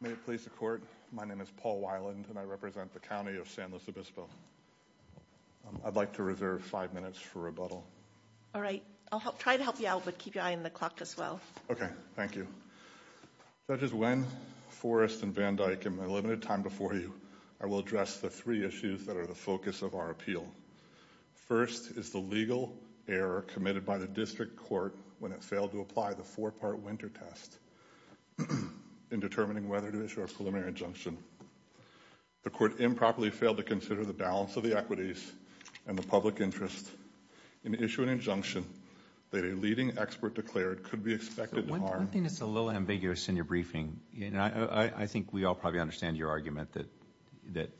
May it please the court my name is Paul Weiland and I represent the County of San Luis Obispo. I'd like to reserve five minutes for rebuttal. All right I'll try to help you out but keep your eye on the clock as well. Okay thank you. Judges Nguyen, Forrest, and Van Dyke in my limited time before you I will address the three issues that are the focus of our appeal. First is the legal error committed by the district court when it failed to apply the four-part winter test in determining whether to issue a preliminary injunction. The court improperly failed to consider the balance of the equities and the public interest in issuing an injunction that a leading expert declared could be expected to harm. I think it's a little ambiguous in your briefing you know I think we all probably understand your argument that that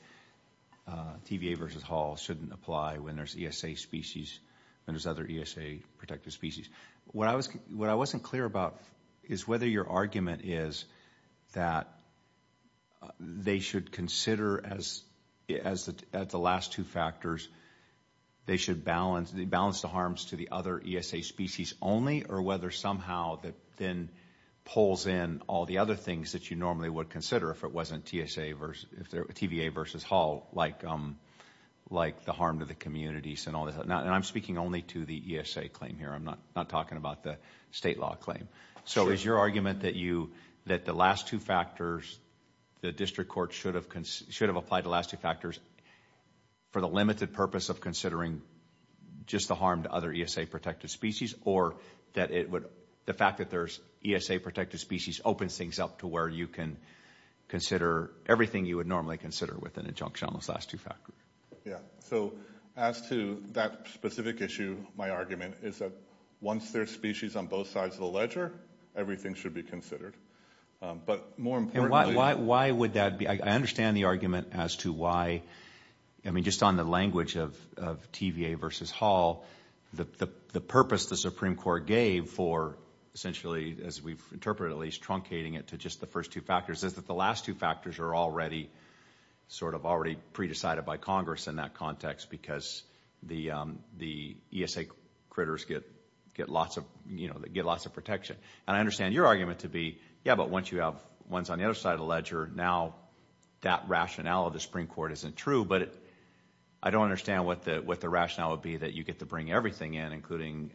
TVA versus Hall shouldn't apply when there's ESA species when there's other ESA protective species. What I was what I wasn't clear about is whether your argument is that they should consider as as the last two factors they should balance the balance the harms to the other ESA species only or whether somehow that then pulls in all the other things that you normally would consider if it wasn't TSA versus if there TVA versus Hall like like the harm to the communities and all I'm speaking only to the ESA claim here I'm not not talking about the state law claim so is your argument that you that the last two factors the district court should have should have applied the last two factors for the limited purpose of considering just the harm to other ESA protected species or that it would the fact that there's ESA protected species opens things up to where you can consider everything you would normally consider with an injunction on those last two factors. Yeah so as to that specific issue my argument is that once there's species on both sides of the ledger everything should be considered but more importantly why would that be I understand the argument as to why I mean just on the language of TVA versus Hall the the purpose the Supreme Court gave for essentially as we've interpreted at least truncating it to just the first two factors is that the last two factors are already sort of already pre-decided by Congress in that context because the the ESA critters get get lots of you know that get lots of protection and I understand your argument to be yeah but once you have ones on the other side of the ledger now that rationale of the Supreme Court isn't true but I don't understand what the what the rationale would be that you get to bring everything in including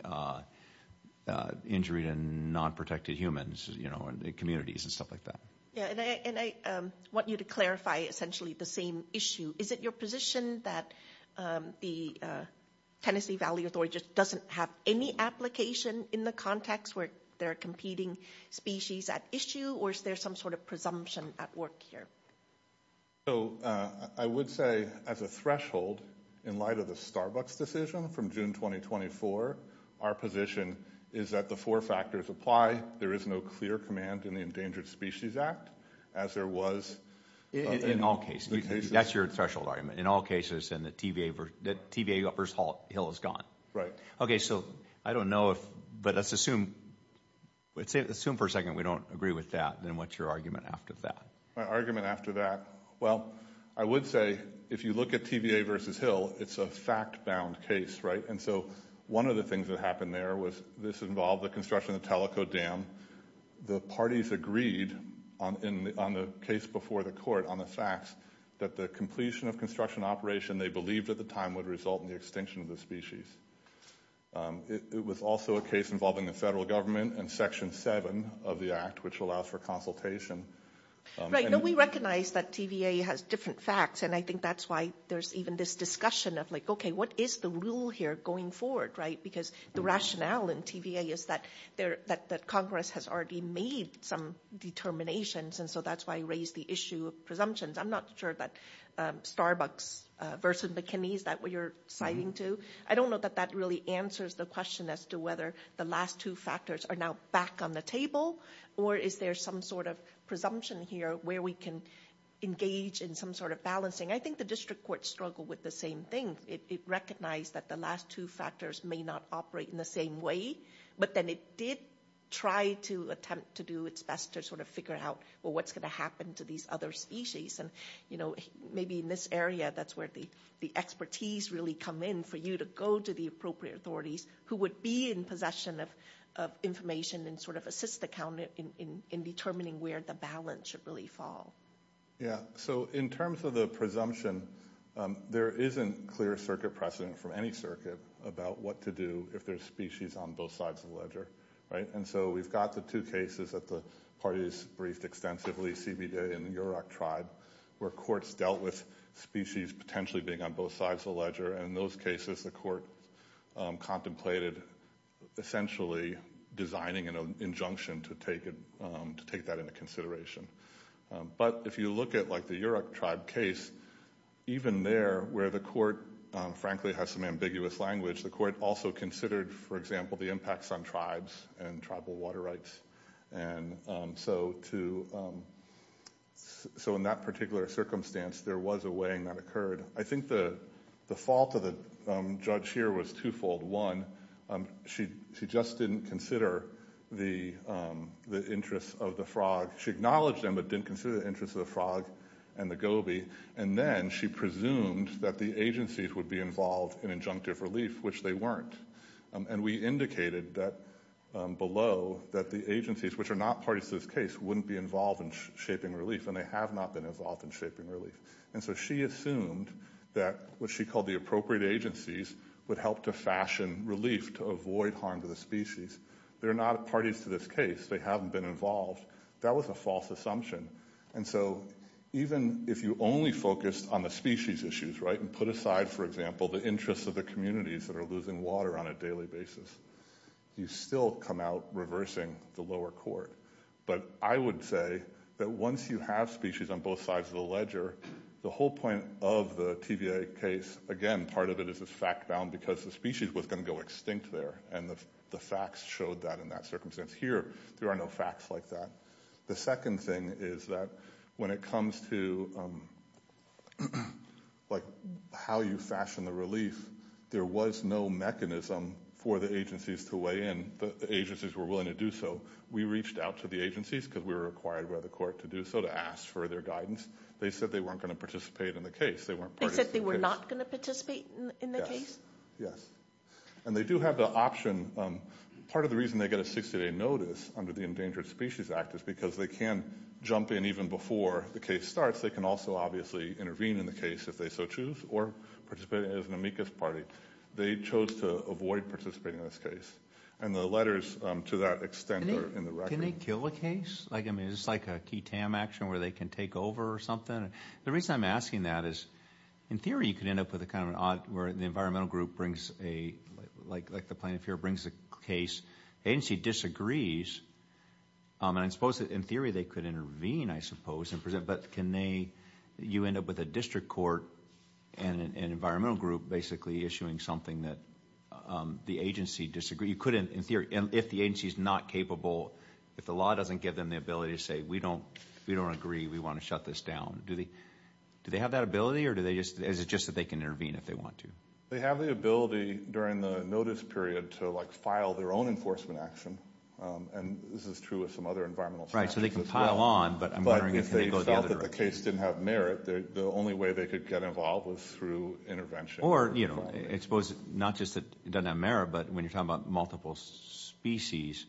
injured and non-protected humans you know and the communities and stuff like that. Yeah and I want you to clarify essentially the same issue is it your position that the Tennessee Valley Authority just doesn't have any application in the context where they're competing species at issue or is there some sort of presumption at work here? So I would say as a threshold in light of the Starbucks decision from June 2024 our position is that the four factors apply there is no clear command in the Endangered Species Act as there was in all cases. That's your threshold argument in all cases and the TVA versus Hill is gone. Right. Okay so I don't know if but let's assume let's assume for a second we don't agree with that then what's your argument after that? My argument after that well I would say if you look at TVA versus Hill it's a fact-bound case right and so one of the things that happened there was this involved the construction of the Teleco Dam. The parties agreed on the case before the court on the facts that the completion of construction operation they believed at the time would result in the extinction of the species. It was also a case involving the federal government and section 7 of the act which allows for consultation. Right no we recognize that TVA has different facts and I think that's why there's even this discussion of like okay what is the rule here going forward right because the rationale in TVA is that there that that Congress has already made some determinations and so that's why I raised the issue of presumptions. I'm not sure that Starbucks versus McKinney's that what you're citing to I don't know that that really answers the question as to whether the last two factors are now back on the table or is there some sort of presumption here where we can engage in some sort of balancing. I think the district court struggled with the same thing. It recognized that the last two factors may not operate in the same way but then it did try to attempt to do its best to sort of figure out well what's gonna happen to these other species and you know maybe in this area that's where the the expertise really come in for you to go to the appropriate authorities who would be in possession of information and sort of assist the county in determining where the balance should really fall. Yeah so in terms of the presumption there isn't clear circuit precedent from any circuit about what to do if there's species on both sides of the ledger right and so we've got the two cases that the parties briefed extensively CBDA and the Yurok tribe where courts dealt with species potentially being on both sides of the ledger and in those cases the court contemplated essentially designing an injunction to take it to take that into consideration but if you look at like the Yurok tribe case even there where the court frankly has some ambiguous language the court also considered for example the impacts on tribes and tribal water rights and so to so in that particular circumstance there was a weighing that occurred I think the the fault of the judge here was twofold one she she just didn't consider the the of the frog she acknowledged them but didn't consider the interest of the frog and the Gobi and then she presumed that the agencies would be involved in injunctive relief which they weren't and we indicated that below that the agencies which are not parties to this case wouldn't be involved in shaping relief and they have not been involved in shaping relief and so she assumed that what she called the appropriate agencies would help to fashion relief to avoid harm to the species they're not parties to this case they haven't been involved that was a false assumption and so even if you only focused on the species issues right and put aside for example the interests of the communities that are losing water on a daily basis you still come out reversing the lower court but I would say that once you have species on both sides of the ledger the whole point of the TVA case again part of it is this fact bound because the species was going to go extinct there and the facts showed that in that here there are no facts like that the second thing is that when it comes to like how you fashion the relief there was no mechanism for the agencies to weigh in the agencies were willing to do so we reached out to the agencies because we were required by the court to do so to ask for their guidance they said they weren't going to participate in the case they weren't they were not going to participate in the case yes and they do have the option part of the they get a 60-day notice under the Endangered Species Act is because they can jump in even before the case starts they can also obviously intervene in the case if they so choose or participate as an amicus party they chose to avoid participating in this case and the letters to that extent are in the right can they kill the case like I mean it's like a key tam action where they can take over or something the reason I'm asking that is in theory you can end up with a kind of an odd where the environmental group brings a like like a plaintiff here brings a case agency disagrees and I suppose that in theory they could intervene I suppose and present but can they you end up with a district court and an environmental group basically issuing something that the agency disagree you couldn't in theory and if the agency is not capable if the law doesn't give them the ability to say we don't we don't agree we want to shut this down do they do they have that ability or do they just as it's just that they can intervene if they want to they have the ability during the notice period to like file their own enforcement action and this is true with some other environmental right so they can pile on but I'm wondering if they thought that the case didn't have merit the only way they could get involved was through intervention or you know expose it not just that it doesn't matter but when you're talking about multiple species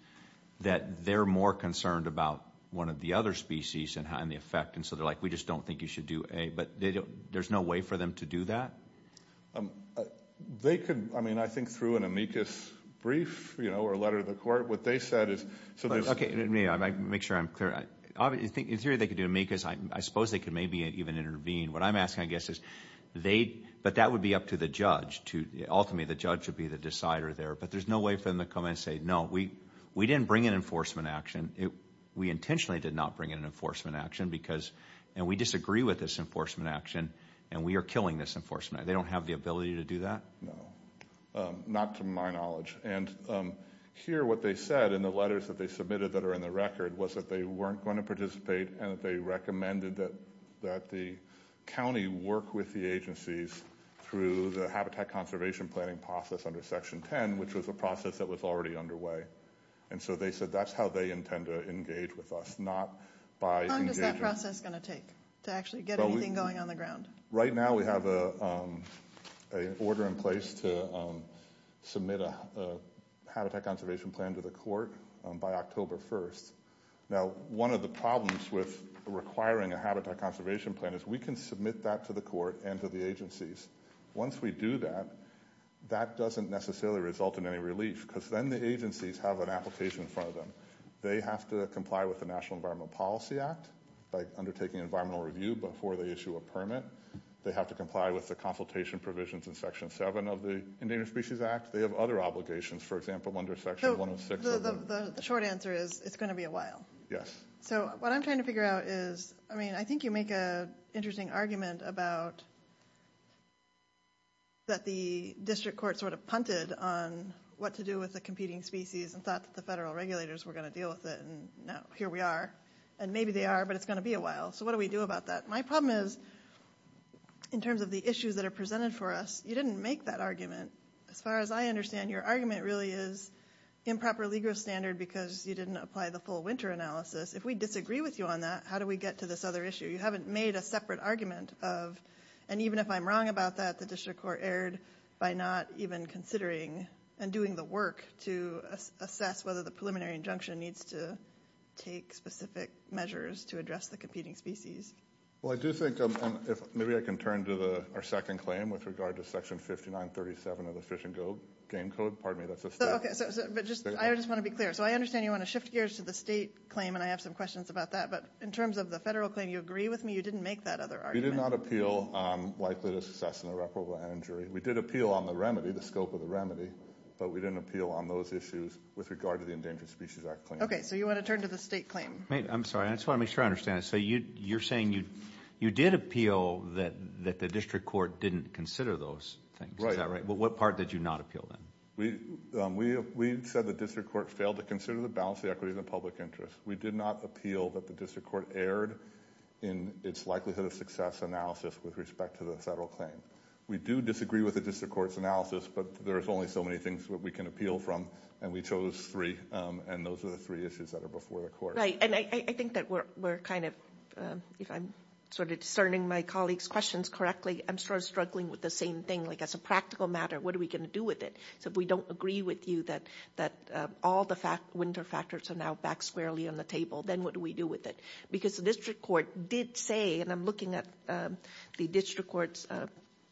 that they're more concerned about one of the other species and how in the effect and so they're like we just don't think you should do a but they don't there's no way for them to do that they could I mean I think through an amicus brief you know or a letter to the court what they said is okay I make sure I'm clear I think in theory they could do me because I suppose they could maybe even intervene what I'm asking I guess is they but that would be up to the judge to ultimately the judge would be the decider there but there's no way for them to come and say no we we didn't bring an enforcement action it we intentionally did not bring in an enforcement action because and we disagree with this enforcement action and we are killing this enforcement they don't have the ability to do that no not to my knowledge and here what they said in the letters that they submitted that are in the record was that they weren't going to participate and that they recommended that that the county work with the agencies through the habitat conservation planning process under section 10 which was a process that was already underway and so they said that's how they intend to engage with us not by process going to take to actually get anything going on the ground right now we have a order in place to submit a habitat conservation plan to the court by October 1st now one of the problems with requiring a habitat conservation plan is we can submit that to the court and to the agencies once we do that that doesn't necessarily result in any relief because then the agencies have an application for them they have to comply with the National Environment Policy Act by undertaking environmental review before they issue a permit they have to comply with the consultation provisions in section 7 of the Endangered Species Act they have other obligations for example under section 106 the short answer is it's going to be a while yes so what I'm trying to figure out is I mean I think you make a interesting argument about that the district court sort of punted on what to do with the competing species and thought that the federal regulators were going to deal with it and now here we are and maybe they are but it's going to be a while so what do we do about that my problem is in terms of the issues that are presented for us you didn't make that argument as far as I understand your argument really is improper legal standard because you didn't apply the full winter analysis if we disagree with you on that how do we get to this other issue you haven't made a separate argument of and even if I'm wrong about that the district court erred by not even considering and doing the work to assess whether the preliminary injunction needs to take specific measures to address the competing species well I do think maybe I can turn to the our second claim with regard to section 59 37 of the fish and go game code part of me that's okay but just I just want to be clear so I understand you want to shift gears to the state claim and I have some questions about that but in terms of the you agree with me you didn't make that other are you did not appeal likely to success in a reputable injury we did appeal on the remedy the scope of the remedy but we didn't appeal on those issues with regard to the endangered species act okay so you want to turn to the state claim I'm sorry I just want to make sure I understand so you you're saying you you did appeal that that the district court didn't consider those things right all right well what part did you not appeal then we we said the district court failed to consider the balance the equity of the public interest we did not appeal that the district court erred in its likelihood of success analysis with respect to the federal claim we do disagree with the district courts analysis but there's only so many things that we can appeal from and we chose three and those are the three issues that are before the court right and I think that we're kind of if I'm sort of discerning my colleagues questions correctly I'm sort of struggling with the same thing like as a practical matter what are we going to do with it so if we don't agree with you that that all the fact winter factors are now back squarely on the table then what do we do with it because the district court did say and I'm looking at the district courts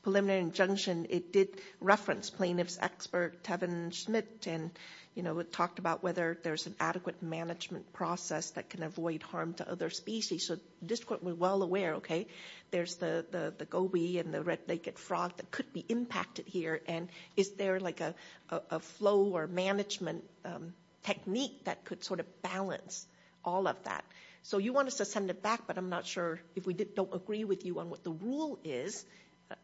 preliminary injunction it did reference plaintiffs expert Tevin Smith and you know it talked about whether there's an adequate management process that can avoid harm to other species so this court was well aware okay there's the the Gobi and the red-naked frog that could be impacted here and is there like a flow or management technique that could sort of balance all of that so you want us to send it back but I'm not sure if we did don't agree with you on what the rule is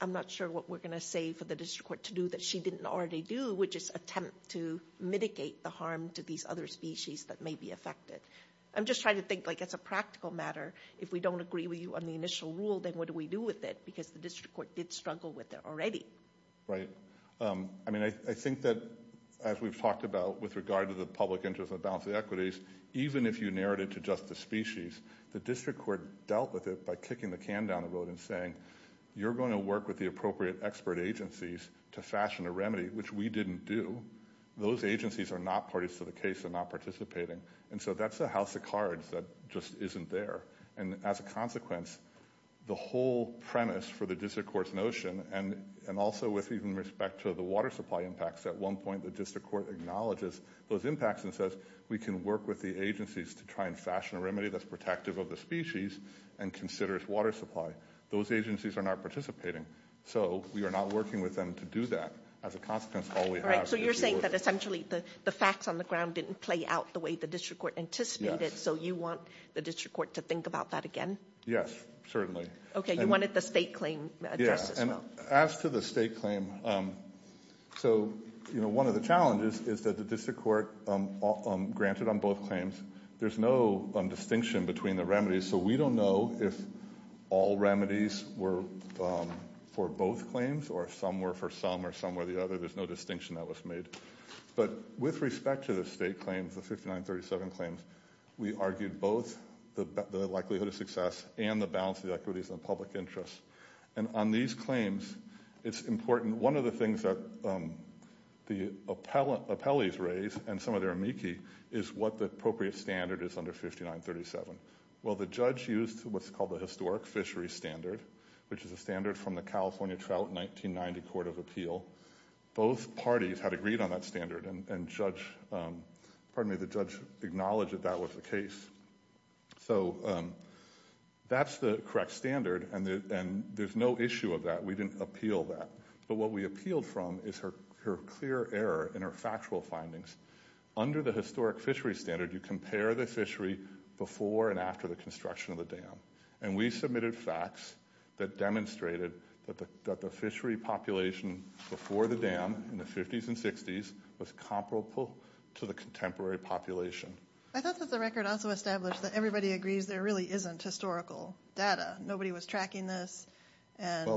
I'm not sure what we're gonna say for the district court to do that she didn't already do which is attempt to mitigate the harm to these other species that may be affected I'm just trying to think like it's a practical matter if we don't agree with you on the initial rule then what do we do with it because the district court did struggle with it already right I mean I think that as we've talked about with regard to the public interest of balancing equities even if you narrowed it to just the species the district court dealt with it by kicking the can down the road and saying you're going to work with the appropriate expert agencies to fashion a remedy which we didn't do those agencies are not parties to the case and not participating and so that's a house of cards that just isn't there and as a consequence the whole premise for the district courts notion and and also with even respect to the water supply impacts at one point the district court acknowledges those impacts and says we can work with the agencies to try and fashion a remedy that's protective of the species and considers water supply those agencies are not participating so we are not working with them to do that as a consequence all right so you're saying that essentially the the facts on the ground didn't play out the way the district court anticipated so you want the district court to think about that again yes certainly okay you wanted the claim yes and as to the state claim so you know one of the challenges is that the district court granted on both claims there's no distinction between the remedies so we don't know if all remedies were for both claims or somewhere for some or somewhere the other there's no distinction that was made but with respect to the state claims the 5937 claims we argued both the likelihood of success and the balance of the equities and public interest and on these claims it's important one of the things that the appellate appellees raise and some of their amici is what the appropriate standard is under 5937 well the judge used what's called the historic fishery standard which is a standard from the California Trout 1990 Court of Appeal both parties had agreed on that standard and judge pardon me the judge acknowledged that that was the case so that's the correct standard and there's no issue of that we didn't appeal that but what we appealed from is her clear error in her factual findings under the historic fishery standard you compare the fishery before and after the construction of the dam and we submitted facts that demonstrated that the population before the dam in the 50s and 60s was comparable to the contemporary population I thought that the record also established that everybody agrees there really isn't historical data nobody was tracking this and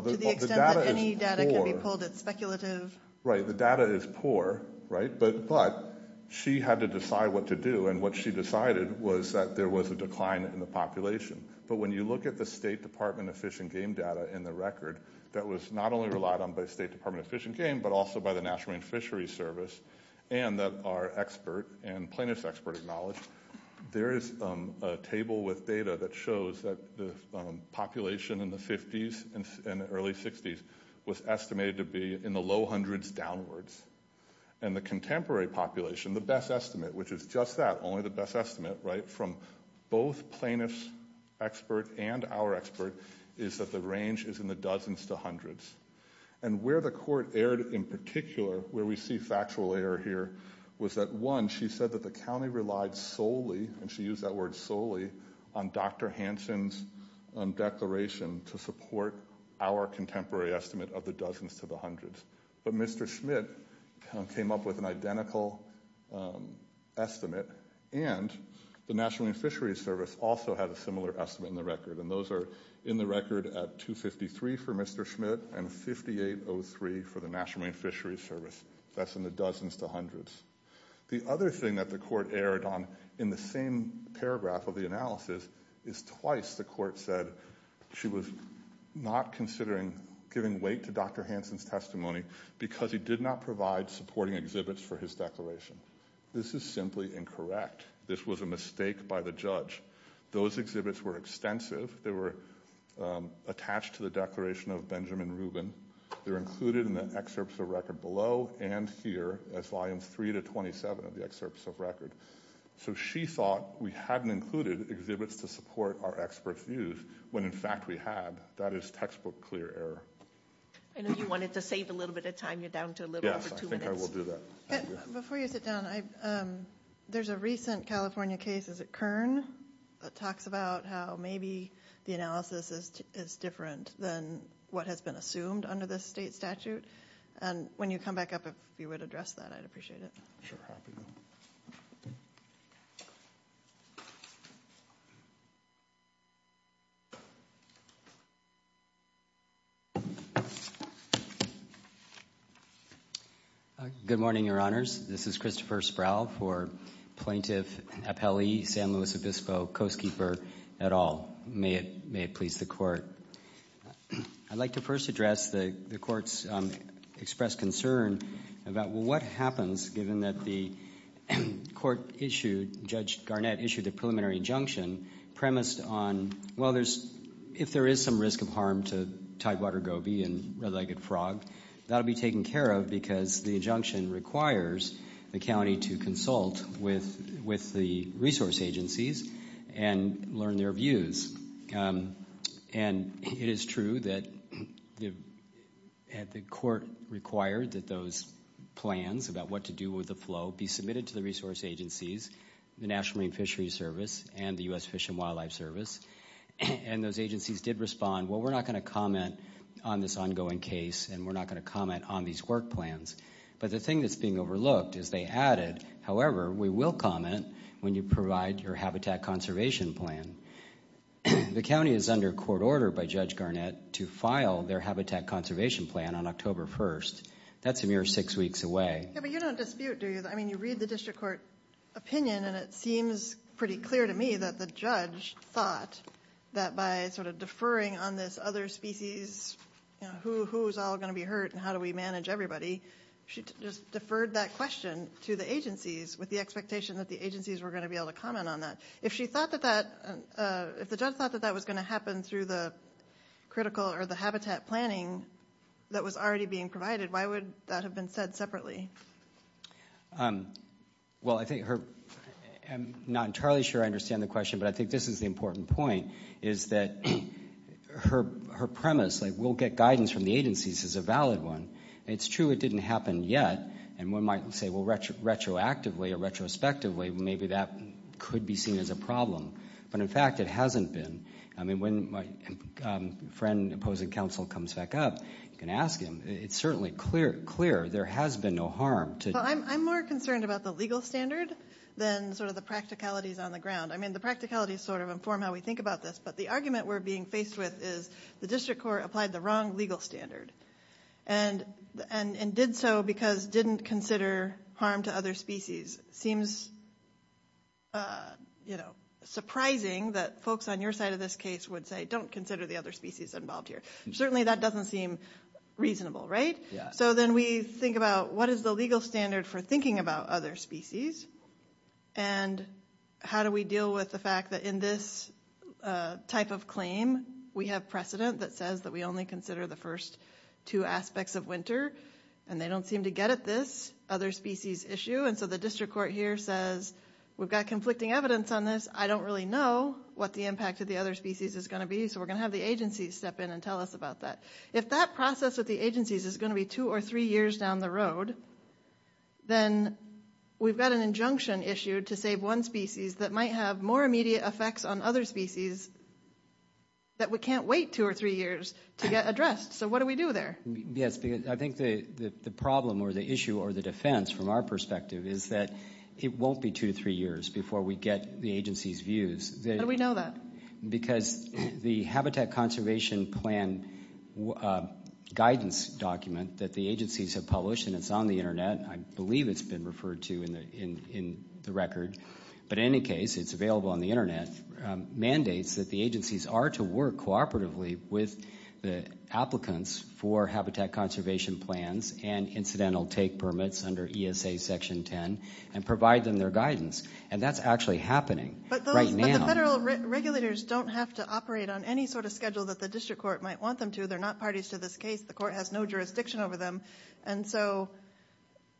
any data can be pulled it's speculative right the data is poor right but but she had to decide what to do and what she decided was that there was a decline in the population but when you look at the State Department of Fish and Game data in the record that was not only relied on by State Department of Fish and Game but also by the National Marine Fishery Service and that our expert and plaintiffs expert acknowledged there is a table with data that shows that the population in the 50s and early 60s was estimated to be in the low hundreds downwards and the contemporary population the best estimate which is just that only the best estimate right from both plaintiffs expert and our expert is that the range is in the dozens to hundreds and where the court aired in particular where we see factual error here was that one she said that the county relied solely and she used that word solely on dr. Hansen's declaration to support our contemporary estimate of the dozens to the hundreds but mr. Schmidt came up with an identical estimate and the National Marine Fishery Service also had a similar estimate in the record and those are in the record at 253 for mr. Schmidt and 5803 for the National Marine Fishery Service that's in the dozens to hundreds the other thing that the court aired on in the same paragraph of the analysis is twice the court said she was not considering giving weight to dr. Hansen's testimony because he did not provide supporting exhibits for his declaration this is simply incorrect this was a mistake by the judge those exhibits were extensive they were attached to the declaration of Benjamin Rubin they're included in the excerpts of record below and here as volume 3 to 27 of the excerpts of record so she thought we hadn't included exhibits to support our expert views when in fact we had that is textbook clear error and if you wanted to save a little bit of time before you sit down I there's a recent California case is it Kern that talks about how maybe the analysis is different than what has been assumed under this state statute and when you come back up if you would address that I'd appreciate it good morning your honors this is Christopher Sproul for plaintiff appellee San Luis Obispo coastkeeper at all may it may it please the court I'd like to first address the courts expressed concern about what happens given that the court issued judge Garnett issued a preliminary injunction premised on well there's if there is some risk of harm to Tidewater Gobi and red-legged frog that'll be taken care of because the injunction requires the county to consult with with the resource agencies and learn their views and it is true that the court required that those plans about what to do with the flow be submitted to the resource agencies the National Marine Fishery Service and the US Fish and Wildlife Service and those agencies did respond well we're not going to comment on this ongoing case and we're not going to comment on these work plans but the thing that's being overlooked is they added however we will comment when you provide your habitat conservation plan the county is under court order by judge Garnett to file their habitat conservation plan on October 1st that's a mere six weeks away but you don't dispute do you I mean you read the district court opinion and it seems pretty clear to me that the judge thought that by sort of deferring on this other species who's all going to be hurt and how do we manage everybody she just deferred that question to the agencies with the expectation that the agencies were going to be able to comment on that if she thought that that if the judge thought that that was going to happen through the critical or the habitat planning that was already being provided why would that have been said separately well I think her I'm not entirely sure I understand the question but I think this is the important point is that her her premise like we'll get guidance from the agencies is a valid one it's true it didn't happen yet and one might say well retro retroactively a retrospectively maybe that could be seen as a problem but in fact it hasn't been I mean when my friend opposing counsel comes back up you can ask him it's certainly clear clear there has been no harm to I'm more concerned about the legal standard then sort of the practicalities on the ground I mean the practicality sort of inform how we think about this but the argument we're being faced with is the district court applied the wrong legal standard and and and did so because didn't consider harm to other species seems you know surprising that folks on your side of this case would say don't consider the other species involved here certainly that doesn't seem reasonable right yeah so then we think about what is the legal standard for thinking about other species and how do we deal with the fact that in this type of claim we have precedent that says that we only consider the first two aspects of winter and they don't seem to get at this other species issue and so the district court here says we've got conflicting evidence on this I don't really know what the impact of the other species is going to be so we're gonna have the agencies step in and tell us about that if that process with the agencies is going to be two or three years down the road then we've got an injunction issued to save one species that might have more immediate effects on other species that we can't wait two or three years to get addressed so what do we do there yes because I think the the problem or the issue or the defense from our perspective is that it won't be two to three years before we get the agency's views that we know that because the Habitat Conservation Plan guidance document that the agencies have published and it's on the internet I believe it's been referred to in the in in the record but in any case it's available on the internet mandates that the agencies are to work cooperatively with the applicants for Habitat Conservation Plans and incidental take permits under ESA section 10 and provide them their guidance and that's actually happening but right now regulators don't have to operate on any sort of schedule that the district court might want them to they're not parties to this case the court has no jurisdiction over them and so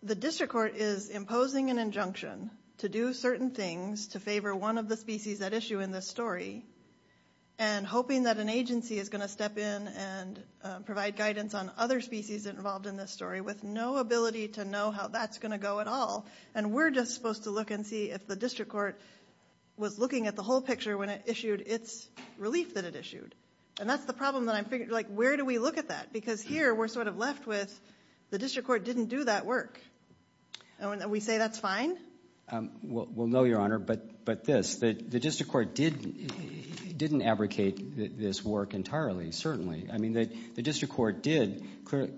the district court is imposing an injunction to do certain things to favor one of the species that issue in this story and hoping that an agency is going to step in and provide guidance on other species involved in this story with no ability to know how that's going to go at all and we're just supposed to look and see if the district court was looking at the whole picture when it issued its relief that it issued and that's the problem that I'm figuring like where do we look at that because here we're sort of left with the district court didn't do that work and when we say that's fine well no your honor but but this that the district court didn't didn't abrogate this work entirely certainly I mean that the district court did clearly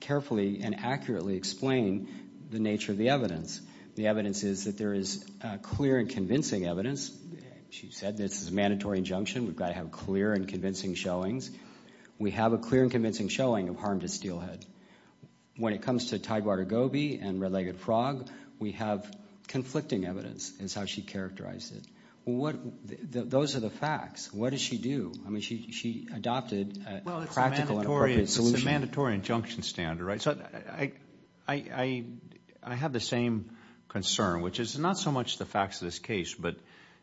carefully and accurately explain the nature of the evidence the evidence is that there is clear and convincing evidence she said this is a mandatory injunction we've got to have clear and convincing showings we have a clear and convincing showing of harm to steelhead when it comes to Tidewater Gobi and red-legged frog we have conflicting evidence is how she characterized it what those are the facts what does she do I mean she adopted a mandatory injunction standard right so I I I have the same concern which is not so much the facts of this case but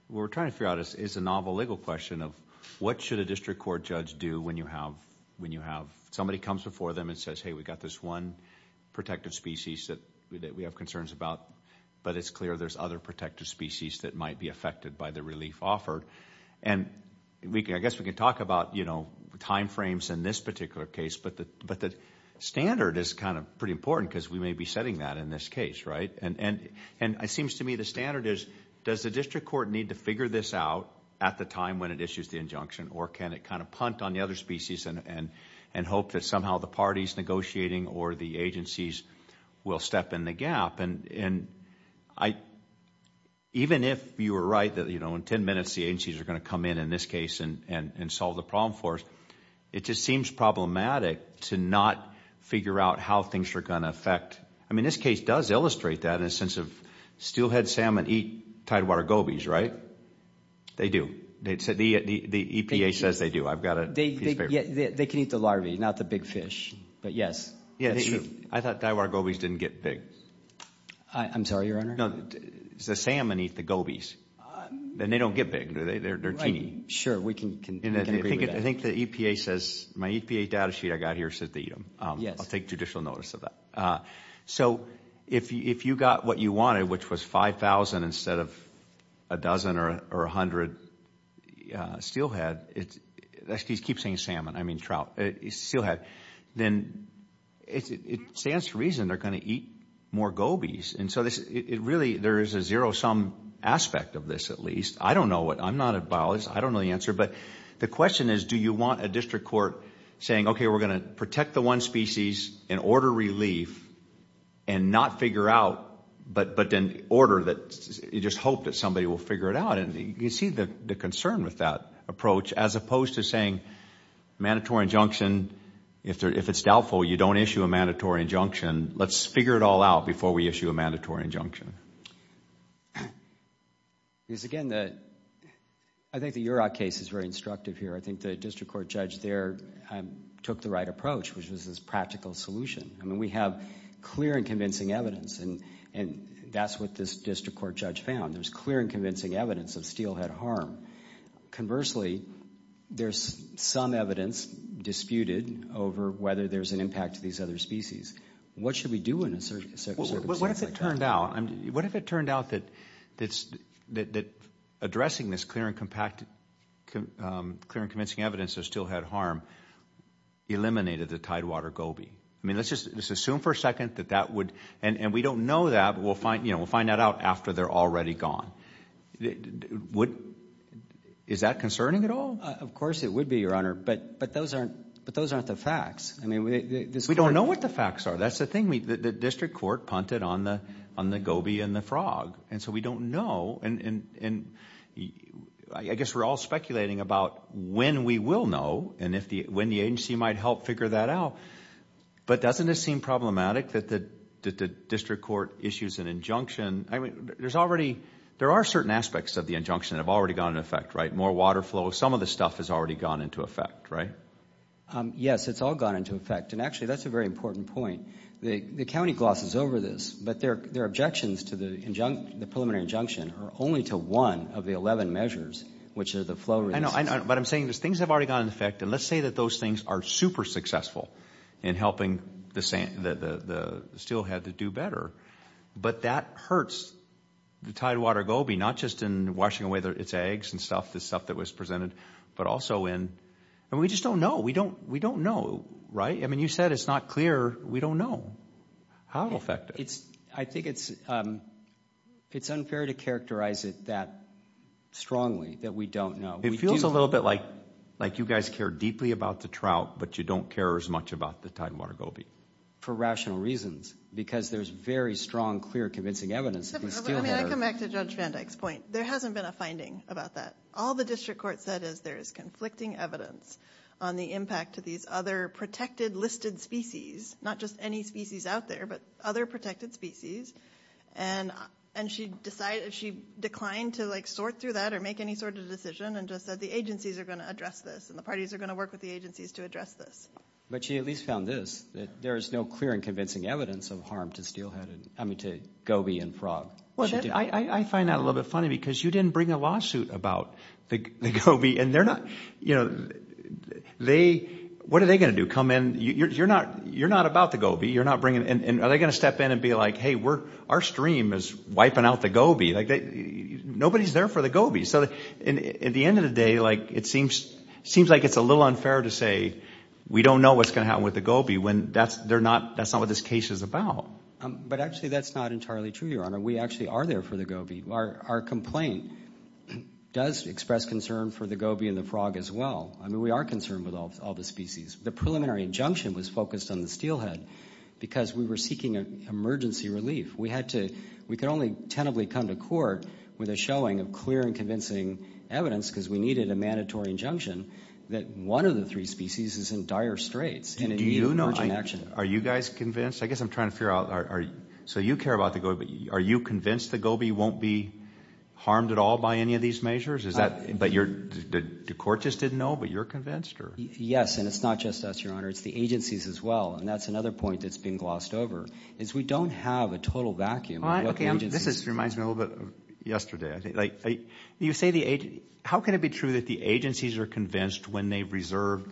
we're trying to figure out is a novel legal question of what should a district court judge do when you have when you have somebody comes before them and says hey we got this one protective species that we have concerns about but it's clear there's other protective species that might be affected by the relief offered and we can I guess we can talk about you know time frames in this particular case but the but the standard is kind of pretty important because we may be setting that in this case right and and and I seems to me the standard is does the district court need to figure this out at the time when it issues the injunction or can it kind of punt on the other species and and and hope that somehow the parties negotiating or the agencies will step in the gap and and I even if you were right that you know in ten minutes the agencies are going to come in in this case and and and solve the problem for us it just seems problematic to not figure out how things are going to affect I mean this case does illustrate that in a sense of steelhead salmon eat Tidewater gobies right they do they'd said the the EPA says they do I've got a date yeah they can eat the larvae not the big fish but yes yeah I thought Tidewater gobies didn't get big I'm sorry your honor no it's the salmon eat the gobies then they don't get big do they they're teeny sure we can I think the EPA says my EPA data sheet I got here says they eat them yes I'll take judicial notice of that so if you if you got what you wanted which was 5,000 instead of a dozen or a hundred steelhead it's these keep saying salmon I mean trout it's still had then it stands to reason they're going to eat more gobies and so this it really there is a zero-sum aspect of this at least I don't know what I'm not a biologist I don't know the answer but the question is do you want a district court saying okay we're gonna protect the one species and order relief and not figure out but but then order that you just hope that somebody will figure it out and you see the concern with that approach as opposed to saying mandatory injunction if they're if it's doubtful you don't issue a mandatory injunction let's figure it all out before we issue a mandatory injunction is again that I think that you're our case is very instructive here I think the district court judge there took the right approach which is this practical solution I mean we have clear and convincing evidence and and that's what this district court judge found there's clear and convincing evidence of steelhead harm conversely there's some evidence disputed over whether there's an impact to these other species what should we do in a search what if it turned out and what if it turned out that it's that addressing this clear and packed clear and convincing evidence is still had harm eliminated the Tidewater Gobi I mean let's just assume for a second that that would and and we don't know that we'll find you know we'll find that out after they're already gone what is that concerning at all of course it would be your honor but but those aren't but those aren't the facts I mean we don't know what the facts are that's the thing we the district court punted on the on the Gobi and the frog and so we don't know and and and I guess we're all speculating about when we will know and if the when the agency might help figure that out but doesn't it seem problematic that the district court issues an injunction I mean there's already there are certain aspects of the injunction have already gone in effect right more water flow some of the stuff has already gone into effect right yes it's all gone into effect and actually that's a very important point the county glosses over this but there are objections to the injunct the preliminary injunction or only to one of the eleven measures which is the flow I know I know but I'm saying this things have already gone in effect and let's say that those things are super successful in helping the same that the still had to do better but that hurts the tidewater Gobi not just in washing away there it's eggs and stuff the stuff that was presented but also in and we just don't know we don't we don't know right I mean you said it's not clear we don't know how effective it's I think it's it's unfair to characterize it that strongly that we don't know it feels a little bit like like you guys care deeply about the trout but you don't care as much about the tidewater Gobi for rational reasons because there's very strong clear convincing evidence there hasn't been a finding about that all the district court said is there is conflicting evidence on the impact to these other protected listed species not just any species out there but other protected species and and she decided she declined to like sort through that or make any sort of decision and just said the agencies are going to address this and the parties are going to work with the agencies to address this but she at least found this that there is no clear and convincing evidence of harm to steelhead I mean to Gobi and frog I I find out a little bit funny because you didn't bring a lawsuit about the Gobi and they're not you know they what are they going to come in you're not you're Gobi you're not bringing and are they going to step in and be like hey we're our stream is wiping out the Gobi like nobody's there for the Gobi so at the end of the day like it seems seems like it's a little unfair to say we don't know what's going to happen with the Gobi when that's they're not that's not what this case is about but actually that's not entirely true your honor we actually are there for the Gobi our complaint does express concern for the Gobi and the frog as well I mean we are concerned with all the species the preliminary injunction was focused on the steelhead because we were seeking an emergency relief we had to we could only tentatively come to court with a showing of clear and convincing evidence because we needed a mandatory injunction that one of the three species is in dire straits and do you know I'm actually are you guys convinced I guess I'm trying to figure out are so you care about the Gobi but are you convinced the Gobi won't be harmed at all by any of these measures is that but you're the court just didn't know but you're convinced or yes and it's not just us your honor it's the agencies as well and that's another point that's been glossed over is we don't have a total vacuum this is reminds me a little bit yesterday I think like you say the age how can it be true that the agencies are convinced when they've reserved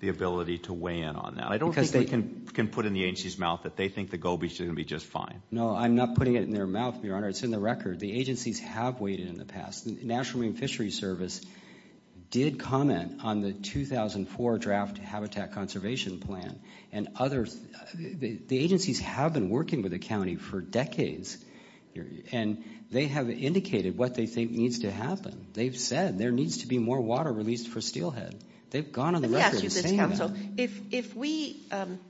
the ability to weigh in on that I don't because they can can put in the agency's mouth that they think the Gobi should be just fine no I'm not putting it in their mouth your honor it's in the record the agencies have waited in the past the National Marine Fishery Service did comment on the 2004 draft habitat conservation plan and others the agencies have been working with the county for decades and they have indicated what they think needs to happen they've said there needs to be more water released for steelhead they've gone on the record if we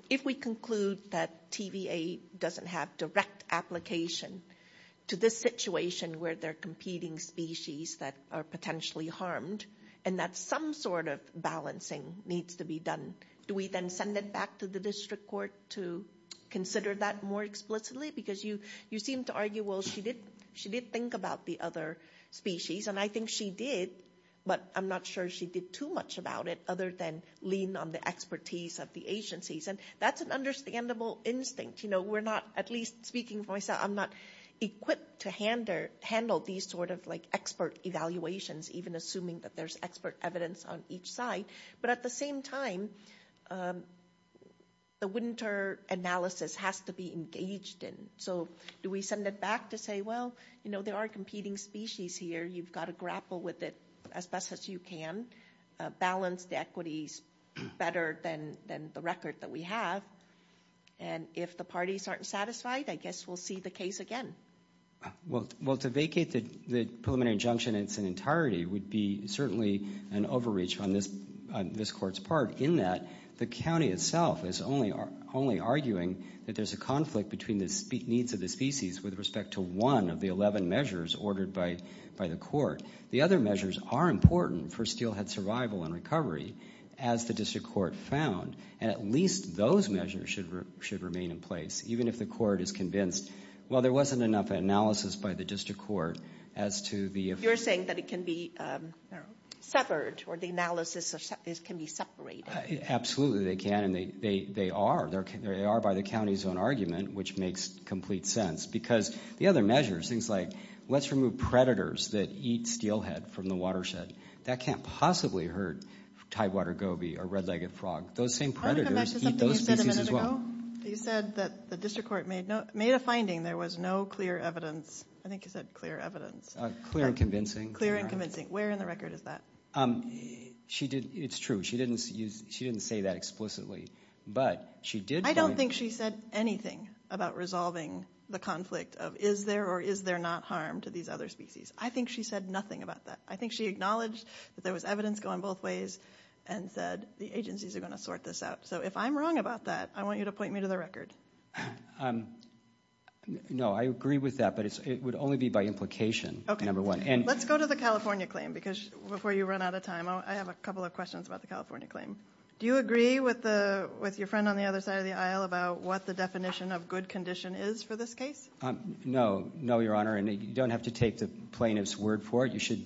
if we conclude that TVA doesn't have direct application to this situation where they're competing species that are potentially harmed and that's some sort of balancing needs to be done do we then send it back to the district court to consider that more explicitly because you you seem to argue well she did she did think about the other species and I think she did but I'm not sure she did too much about it other than lean on the expertise of the agencies and that's an understandable instinct you know we're not at least speaking for myself I'm not equipped to handle handle these sort of like expert evaluations even assuming that there's expert evidence on each side but at the same time the winter analysis has to be engaged in so do we send it back to say well you know there are competing species here you've got to grapple with it as best as you can balance the equities better than than the record that we have and if the parties aren't satisfied I guess we'll see the case again well well to vacate that the preliminary injunction it's an entirety would be certainly an overreach on this this court's part in that the county itself is only are only arguing that there's a conflict between the speak needs of the species with respect to one of the eleven measures ordered by by the court the other measures are important for steelhead survival and recovery as the district court found at least those measures should remain in place even if the court is convinced well there wasn't enough analysis by the district court as to the if you're saying that it can be severed or the analysis of this can be separated absolutely they can and they they are there can they are by the county's own argument which makes complete sense because the other measures things like let's remove predators that eat from the watershed that can't possibly hurt tidewater goby or red-legged frog those same predators you said that the district court made no made a finding there was no clear evidence I think you said clear evidence clear convincing clear and convincing where in the record is that she did it's true she didn't use she didn't say that explicitly but she did I don't think she said anything about resolving the conflict of is there or is there not harm to these other species I think she said nothing about that I think she acknowledged there was evidence going both ways and said the agencies are going to sort this out so if I'm wrong about that I want you to point me to the record no I agree with that but it would only be by implication number one and let's go to the California claim because before you run out of time I have a couple of questions about the California claim do you agree with the with your friend on the other side of the aisle about what the definition of good condition is for this case no no your honor and you don't have to take the plaintiff's word for it you should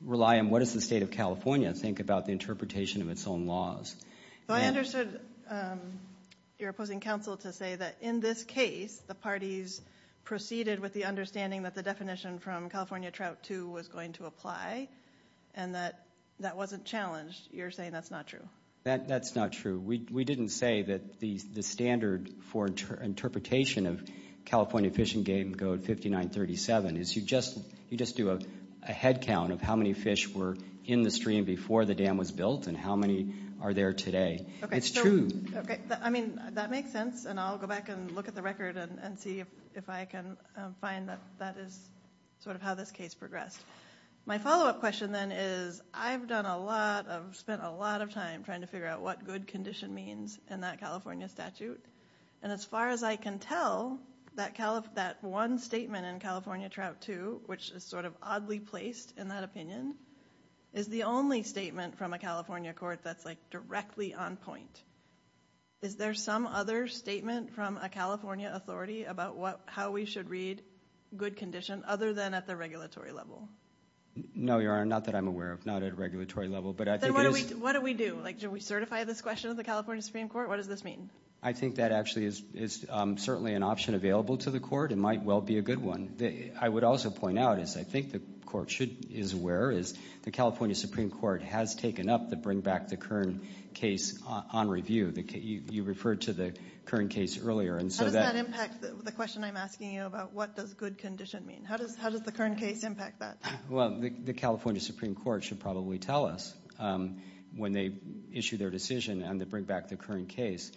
rely on what is the state of California think about the interpretation of its own laws I understood your opposing counsel to say that in this case the parties proceeded with the understanding that the definition from California trout to was going to apply and that that wasn't challenged you're saying that's not true that that's not true we didn't say that these the standard for interpretation of California fishing game code 5937 is you just you just do a head count of how many fish were in the stream before the dam was built and how many are there today it's true okay I mean that makes sense and I'll go back and look at the record and see if I can find that that is sort of how this case progressed my follow-up question then is I've done a lot of spent a lot of time trying to figure out what good condition means in that California statute and as far as I can tell that Calif that one statement in California trout to which is sort of oddly placed in that opinion is the only statement from a California court that's like directly on point is there some other statement from a California authority about what how we should read good condition other than at the regulatory level no your honor not that I'm aware of not at regulatory level but I think what do we do like do we certify this question of the California Supreme Court what does this mean I think that actually is is certainly an option available to the court it might well be a good one that I would also point out is I think the court should is where is the California Supreme Court has taken up the bring back the current case on review the case you referred to the current case earlier and so that impact the question I'm asking you about what does good condition mean how does how does the current case impact that well the California Supreme Court should probably tell us when they issue their decision and to bring back the current case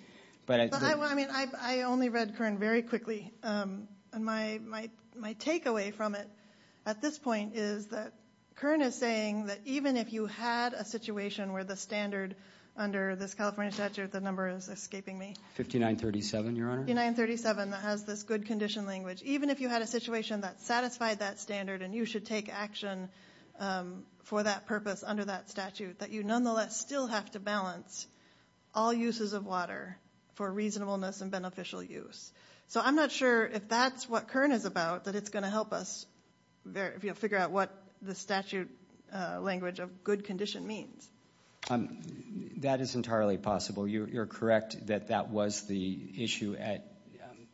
but I mean I only read current very quickly and my take away from it at this point is that current is saying that even if you had a situation where the standard under this California statute the number is escaping me 5937 your honor in 937 that has this good condition language even if you had a situation that satisfied that standard and you should take action for that purpose under that statute that you nonetheless still have to balance all uses of water for reasonableness and beneficial use so I'm not sure if that's what current is about that it's going to help us there if you figure out what the statute language of good condition means that is entirely possible you're correct that that was the issue at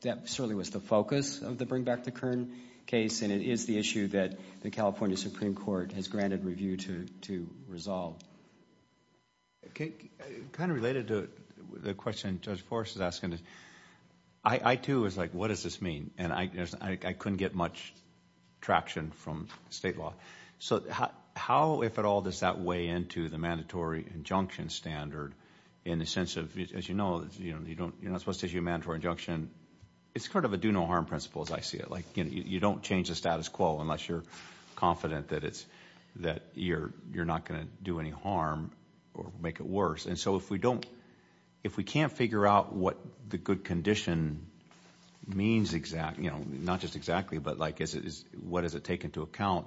that certainly was the focus of the bring back the current case and it is the issue that the California Supreme Court has granted review to to resolve okay kind of related to the question judge force is asking I too is like what does this mean and I guess I couldn't get much traction from state law so how if at all does that weigh into the mandatory injunction standard in the sense of as you know you know you don't you're not supposed to do mandatory injunction it's kind of a do no harm principles I see it like you know you don't change the status quo unless you're confident that it's that you're you're not going to do any harm or make it worse and so if we don't if we can't figure out what the good condition means exact you know not just exactly but like is it is what does it take into account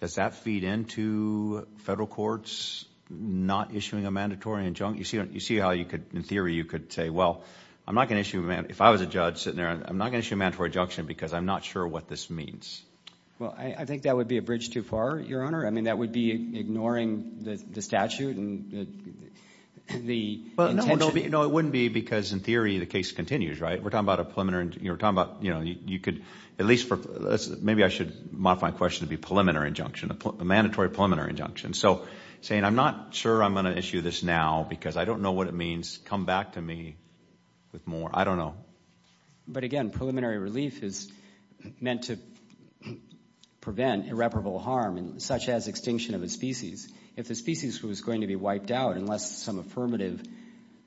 does that feed into federal courts not issuing a mandatory injunction you see you see how you could in theory you could say well I'm not going to issue man if I was a judge because I'm not sure what this means well I think that would be a bridge too far your honor I mean that would be ignoring the statute and the you know it wouldn't be because in theory the case continues right we're talking about a preliminary you're talking about you know you could at least for maybe I should modify my question to be preliminary injunction a mandatory preliminary injunction so saying I'm not sure I'm gonna issue this now because I don't know what it means come back to me with more I don't know but again preliminary relief is meant to prevent irreparable harm and such as extinction of a species if the species was going to be wiped out unless some affirmative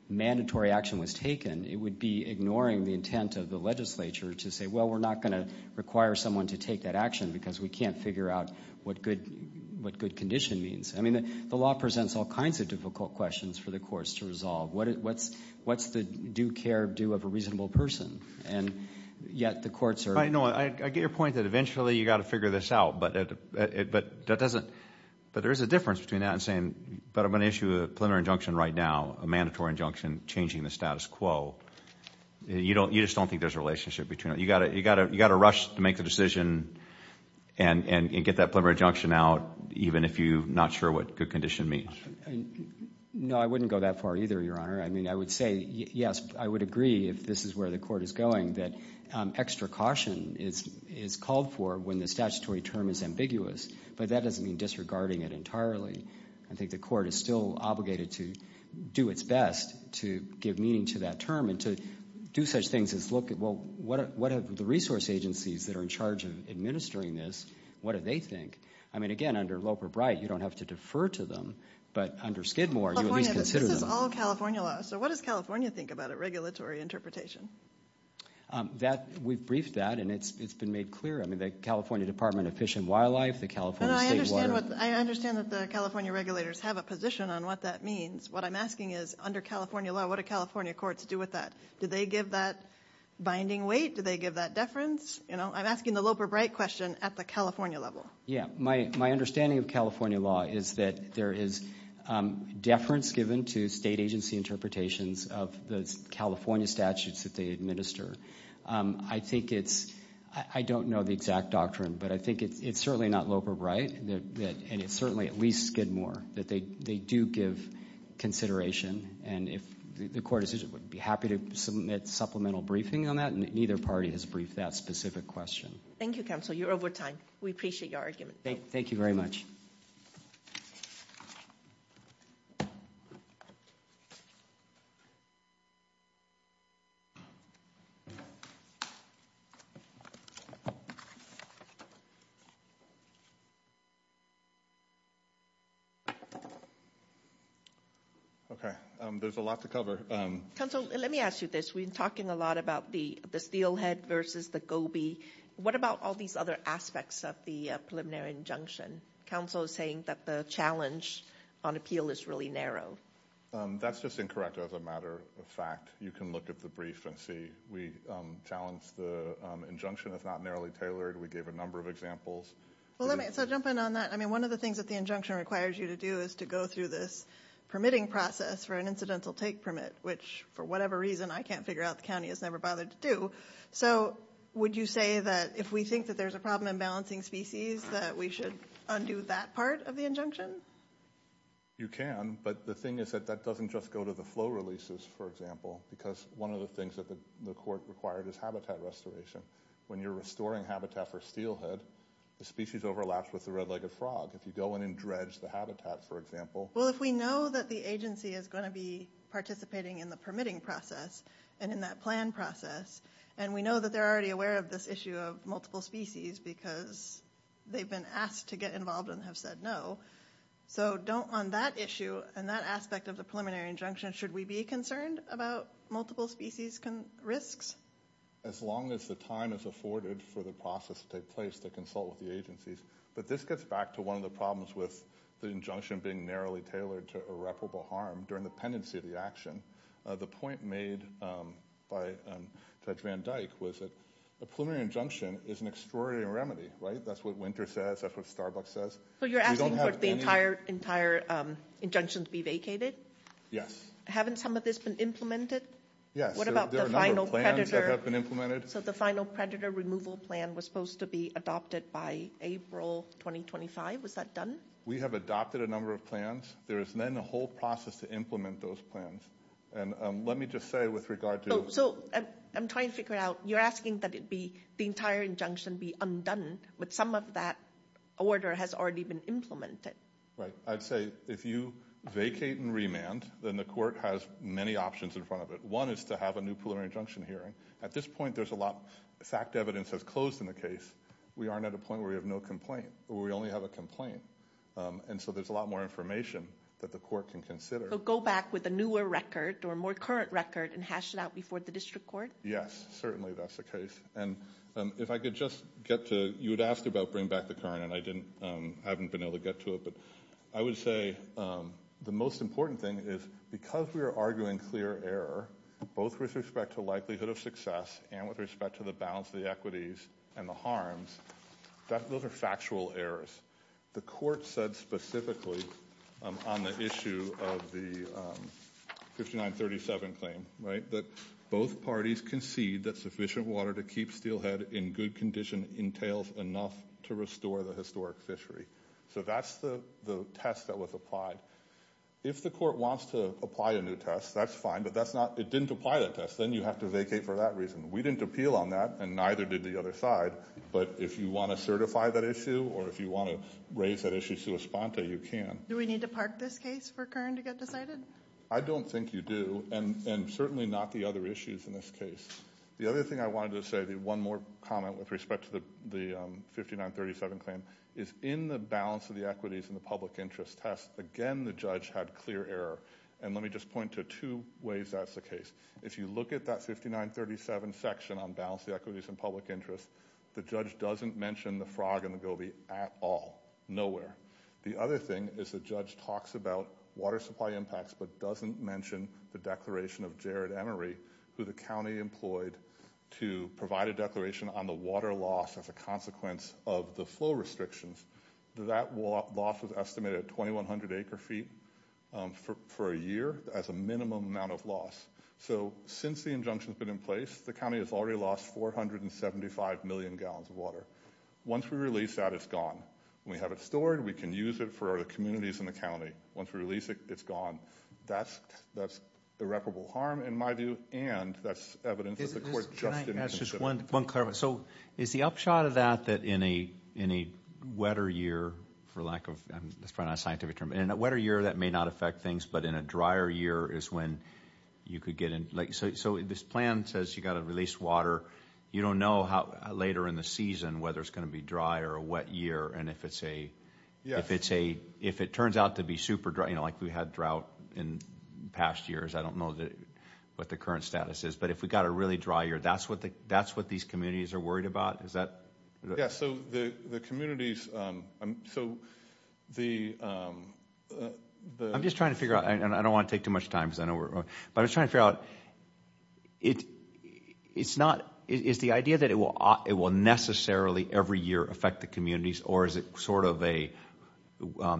mandatory action was taken it would be ignoring the intent of the legislature to say well we're not going to require someone to take that action because we can't figure out what good what good condition means I mean the law presents all kinds of difficult questions for the courts to resolve what it what's what's the do-care-do of a reasonable person and yet the courts are I know I get your point that eventually you got to figure this out but it but that doesn't but there is a difference between that and saying but I'm going to issue a preliminary injunction right now a mandatory injunction changing the status quo you don't you just don't think there's a relationship between it you got it you got it you got to rush to make the decision and and get that out even if you not sure what good condition means no I wouldn't go that far either your honor I mean I would say yes I would agree if this is where the court is going that extra caution is is called for when the statutory term is ambiguous but that doesn't mean disregarding it entirely I think the court is still obligated to do its best to give meaning to that term and to do such things as look at well what what have the resource agencies that are in charge of administering this what do they think I mean again under Loper Bright you don't have to defer to them but under Skidmore you consider them all California law so what does California think about a regulatory interpretation that we've briefed that and it's it's been made clear I mean the California Department of Fish and Wildlife the California I understand that the California regulators have a position on what that means what I'm asking is under California law what a California courts do with that do they give that binding weight do they give that deference you know I'm asking the Loper Bright question at the California level yeah my my understanding of California law is that there is deference given to state agency interpretations of the California statutes that they administer I think it's I don't know the exact doctrine but I think it's it's certainly not Loper Bright that and it's certainly at least Skidmore that they they do give consideration and if the court is it be happy to submit supplemental briefing on that and neither party has briefed that specific question thank you counsel you're over time we appreciate your argument thank you very much okay there's a lot to cover council let me ask you this we've been talking a lot about the the steelhead versus the Gobi what about all these other aspects of the preliminary injunction counsel is saying that the challenge on appeal is really narrow that's just incorrect as a matter of fact you can look at the brief and see we challenge the injunction is not narrowly tailored we gave a number of examples well let me jump in on that I mean one of the things that the injunction requires you to do is to go through this permitting process for an incidental take permit which for whatever reason I can't figure out the county has never bothered to do so would you say that if we think that there's a balancing species that we should undo that part of the injunction you can but the thing is that that doesn't just go to the flow releases for example because one of the things that the court required is habitat restoration when you're restoring habitat for steelhead the species overlaps with the red-legged frog if you go in and dredge the habitat for example well if we know that the agency is going to be participating in the permitting process and in that plan process and we know that they're already aware of this issue of multiple species because they've been asked to get involved and have said no so don't on that issue and that aspect of the preliminary injunction should we be concerned about multiple species can risks as long as the time is afforded for the process to take place to consult with the agencies but this gets back to one of the problems with the injunction being narrowly tailored to irreparable harm during the pendency of the action the point made by Judge Van Dyke was it a preliminary injunction is an extraordinary remedy right that's what winter says that's what Starbucks says so you don't have the entire entire injunction to be vacated yes haven't some of this been implemented yes what about the final predator have been implemented so the final predator removal plan was supposed to be adopted by April 2025 was that done we have adopted a number of plans there is then the whole process to implement those plans and let me just say with regard to so I'm trying to figure out you're asking that it be the entire injunction be undone but some of that order has already been implemented right I'd say if you vacate and remand then the court has many options in front of it one is to have a new preliminary injunction hearing at this point there's a lot fact evidence has closed in the case we aren't at a point where we have no complaint we only have a complaint and so there's a lot more information that the court can consider go back with a newer record or more current record and hash it out before the district court yes certainly that's the case and if I could just get to you would ask about bring back the current and I didn't haven't been able to get to it but I would say the most important thing is because we are arguing clear error both with respect to likelihood of success and with respect to the balance of the equities and the harms that those are factual errors the court said specifically on the issue of the 5937 claim right that both parties concede that sufficient water to keep steelhead in good condition entails enough to restore the historic fishery so that's the test that was applied if the court wants to apply a new test that's fine but that's not it didn't apply that test then you have to vacate for that reason we didn't appeal on that and neither did the other side but if you want to certify that issue or if you want to raise that issue to respond to you can do we need to park this case for current to get decided I don't think you do and and certainly not the other issues in this case the other thing I wanted to say the one more comment with respect to the the 5937 claim is in the balance of the equities and the public interest test again the judge had clear error and let me just point to two ways that's the case if you look at that 5937 section on balance the equities and public interest the judge doesn't mention the frog and the Gobi at all nowhere the other thing is the judge talks about water supply impacts but doesn't mention the declaration of Jared Emery who the county employed to provide a declaration on the water loss as a consequence of the flow restrictions that walk loss was estimated at 2,100 acre feet for a year as a minimum amount of loss so since the injunction has been in place the county has already lost 475 million gallons of water once we release that it's gone we have it stored we can use it for our communities in the county once we release it it's gone that's that's irreparable harm in my view and that's evidence of the court just as just one one clever so is the upshot of that that in a in a wetter year for lack of this front on scientific term and a wetter year that may not affect things but in a drier year is when you could get in like so this plan says you got to release water you don't know how later in the season whether it's going to be dry or a wet year and if it's a yeah if it's a if it turns out to be super dry you know like we had drought in past years I don't know that what the current status is but if we got a really dry year that's what the that's what these communities are worried about is that yes so the communities so the I'm just trying to figure out and I don't want to take too much time because I know we're but it's trying to figure out it it's not is the idea that it will it will necessarily every year affect the communities or is it sort of a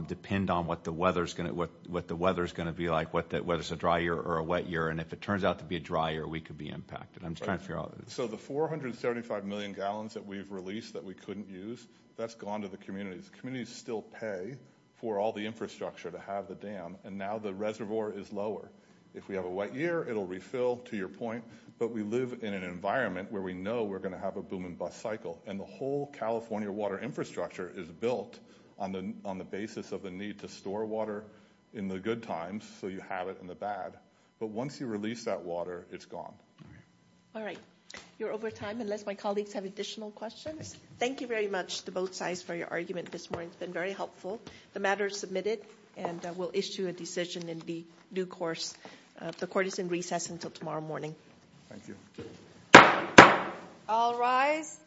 depend on what the weather is going to what what the weather is going to be like what that whether it's a dry year or a wet year and if it turns out to be a dryer we could be impacted I'm trying to figure out so the 475 million gallons that we've released that we couldn't use that's gone to the communities communities still pay for all the infrastructure to have the dam and now the reservoir is lower if we have a wet year it'll refill to your point but we live in an environment where we know we're going to have a boom-and-bust cycle and the whole California water infrastructure is built on the on the basis of the need to store water in the good times so you have it in the bad but once you release that water it's gone all right you're over time unless my colleagues have additional questions thank you very much to both sides for your argument this morning's been very helpful the matter submitted and we'll issue a decision in the new course the court is in recess until tomorrow morning all rise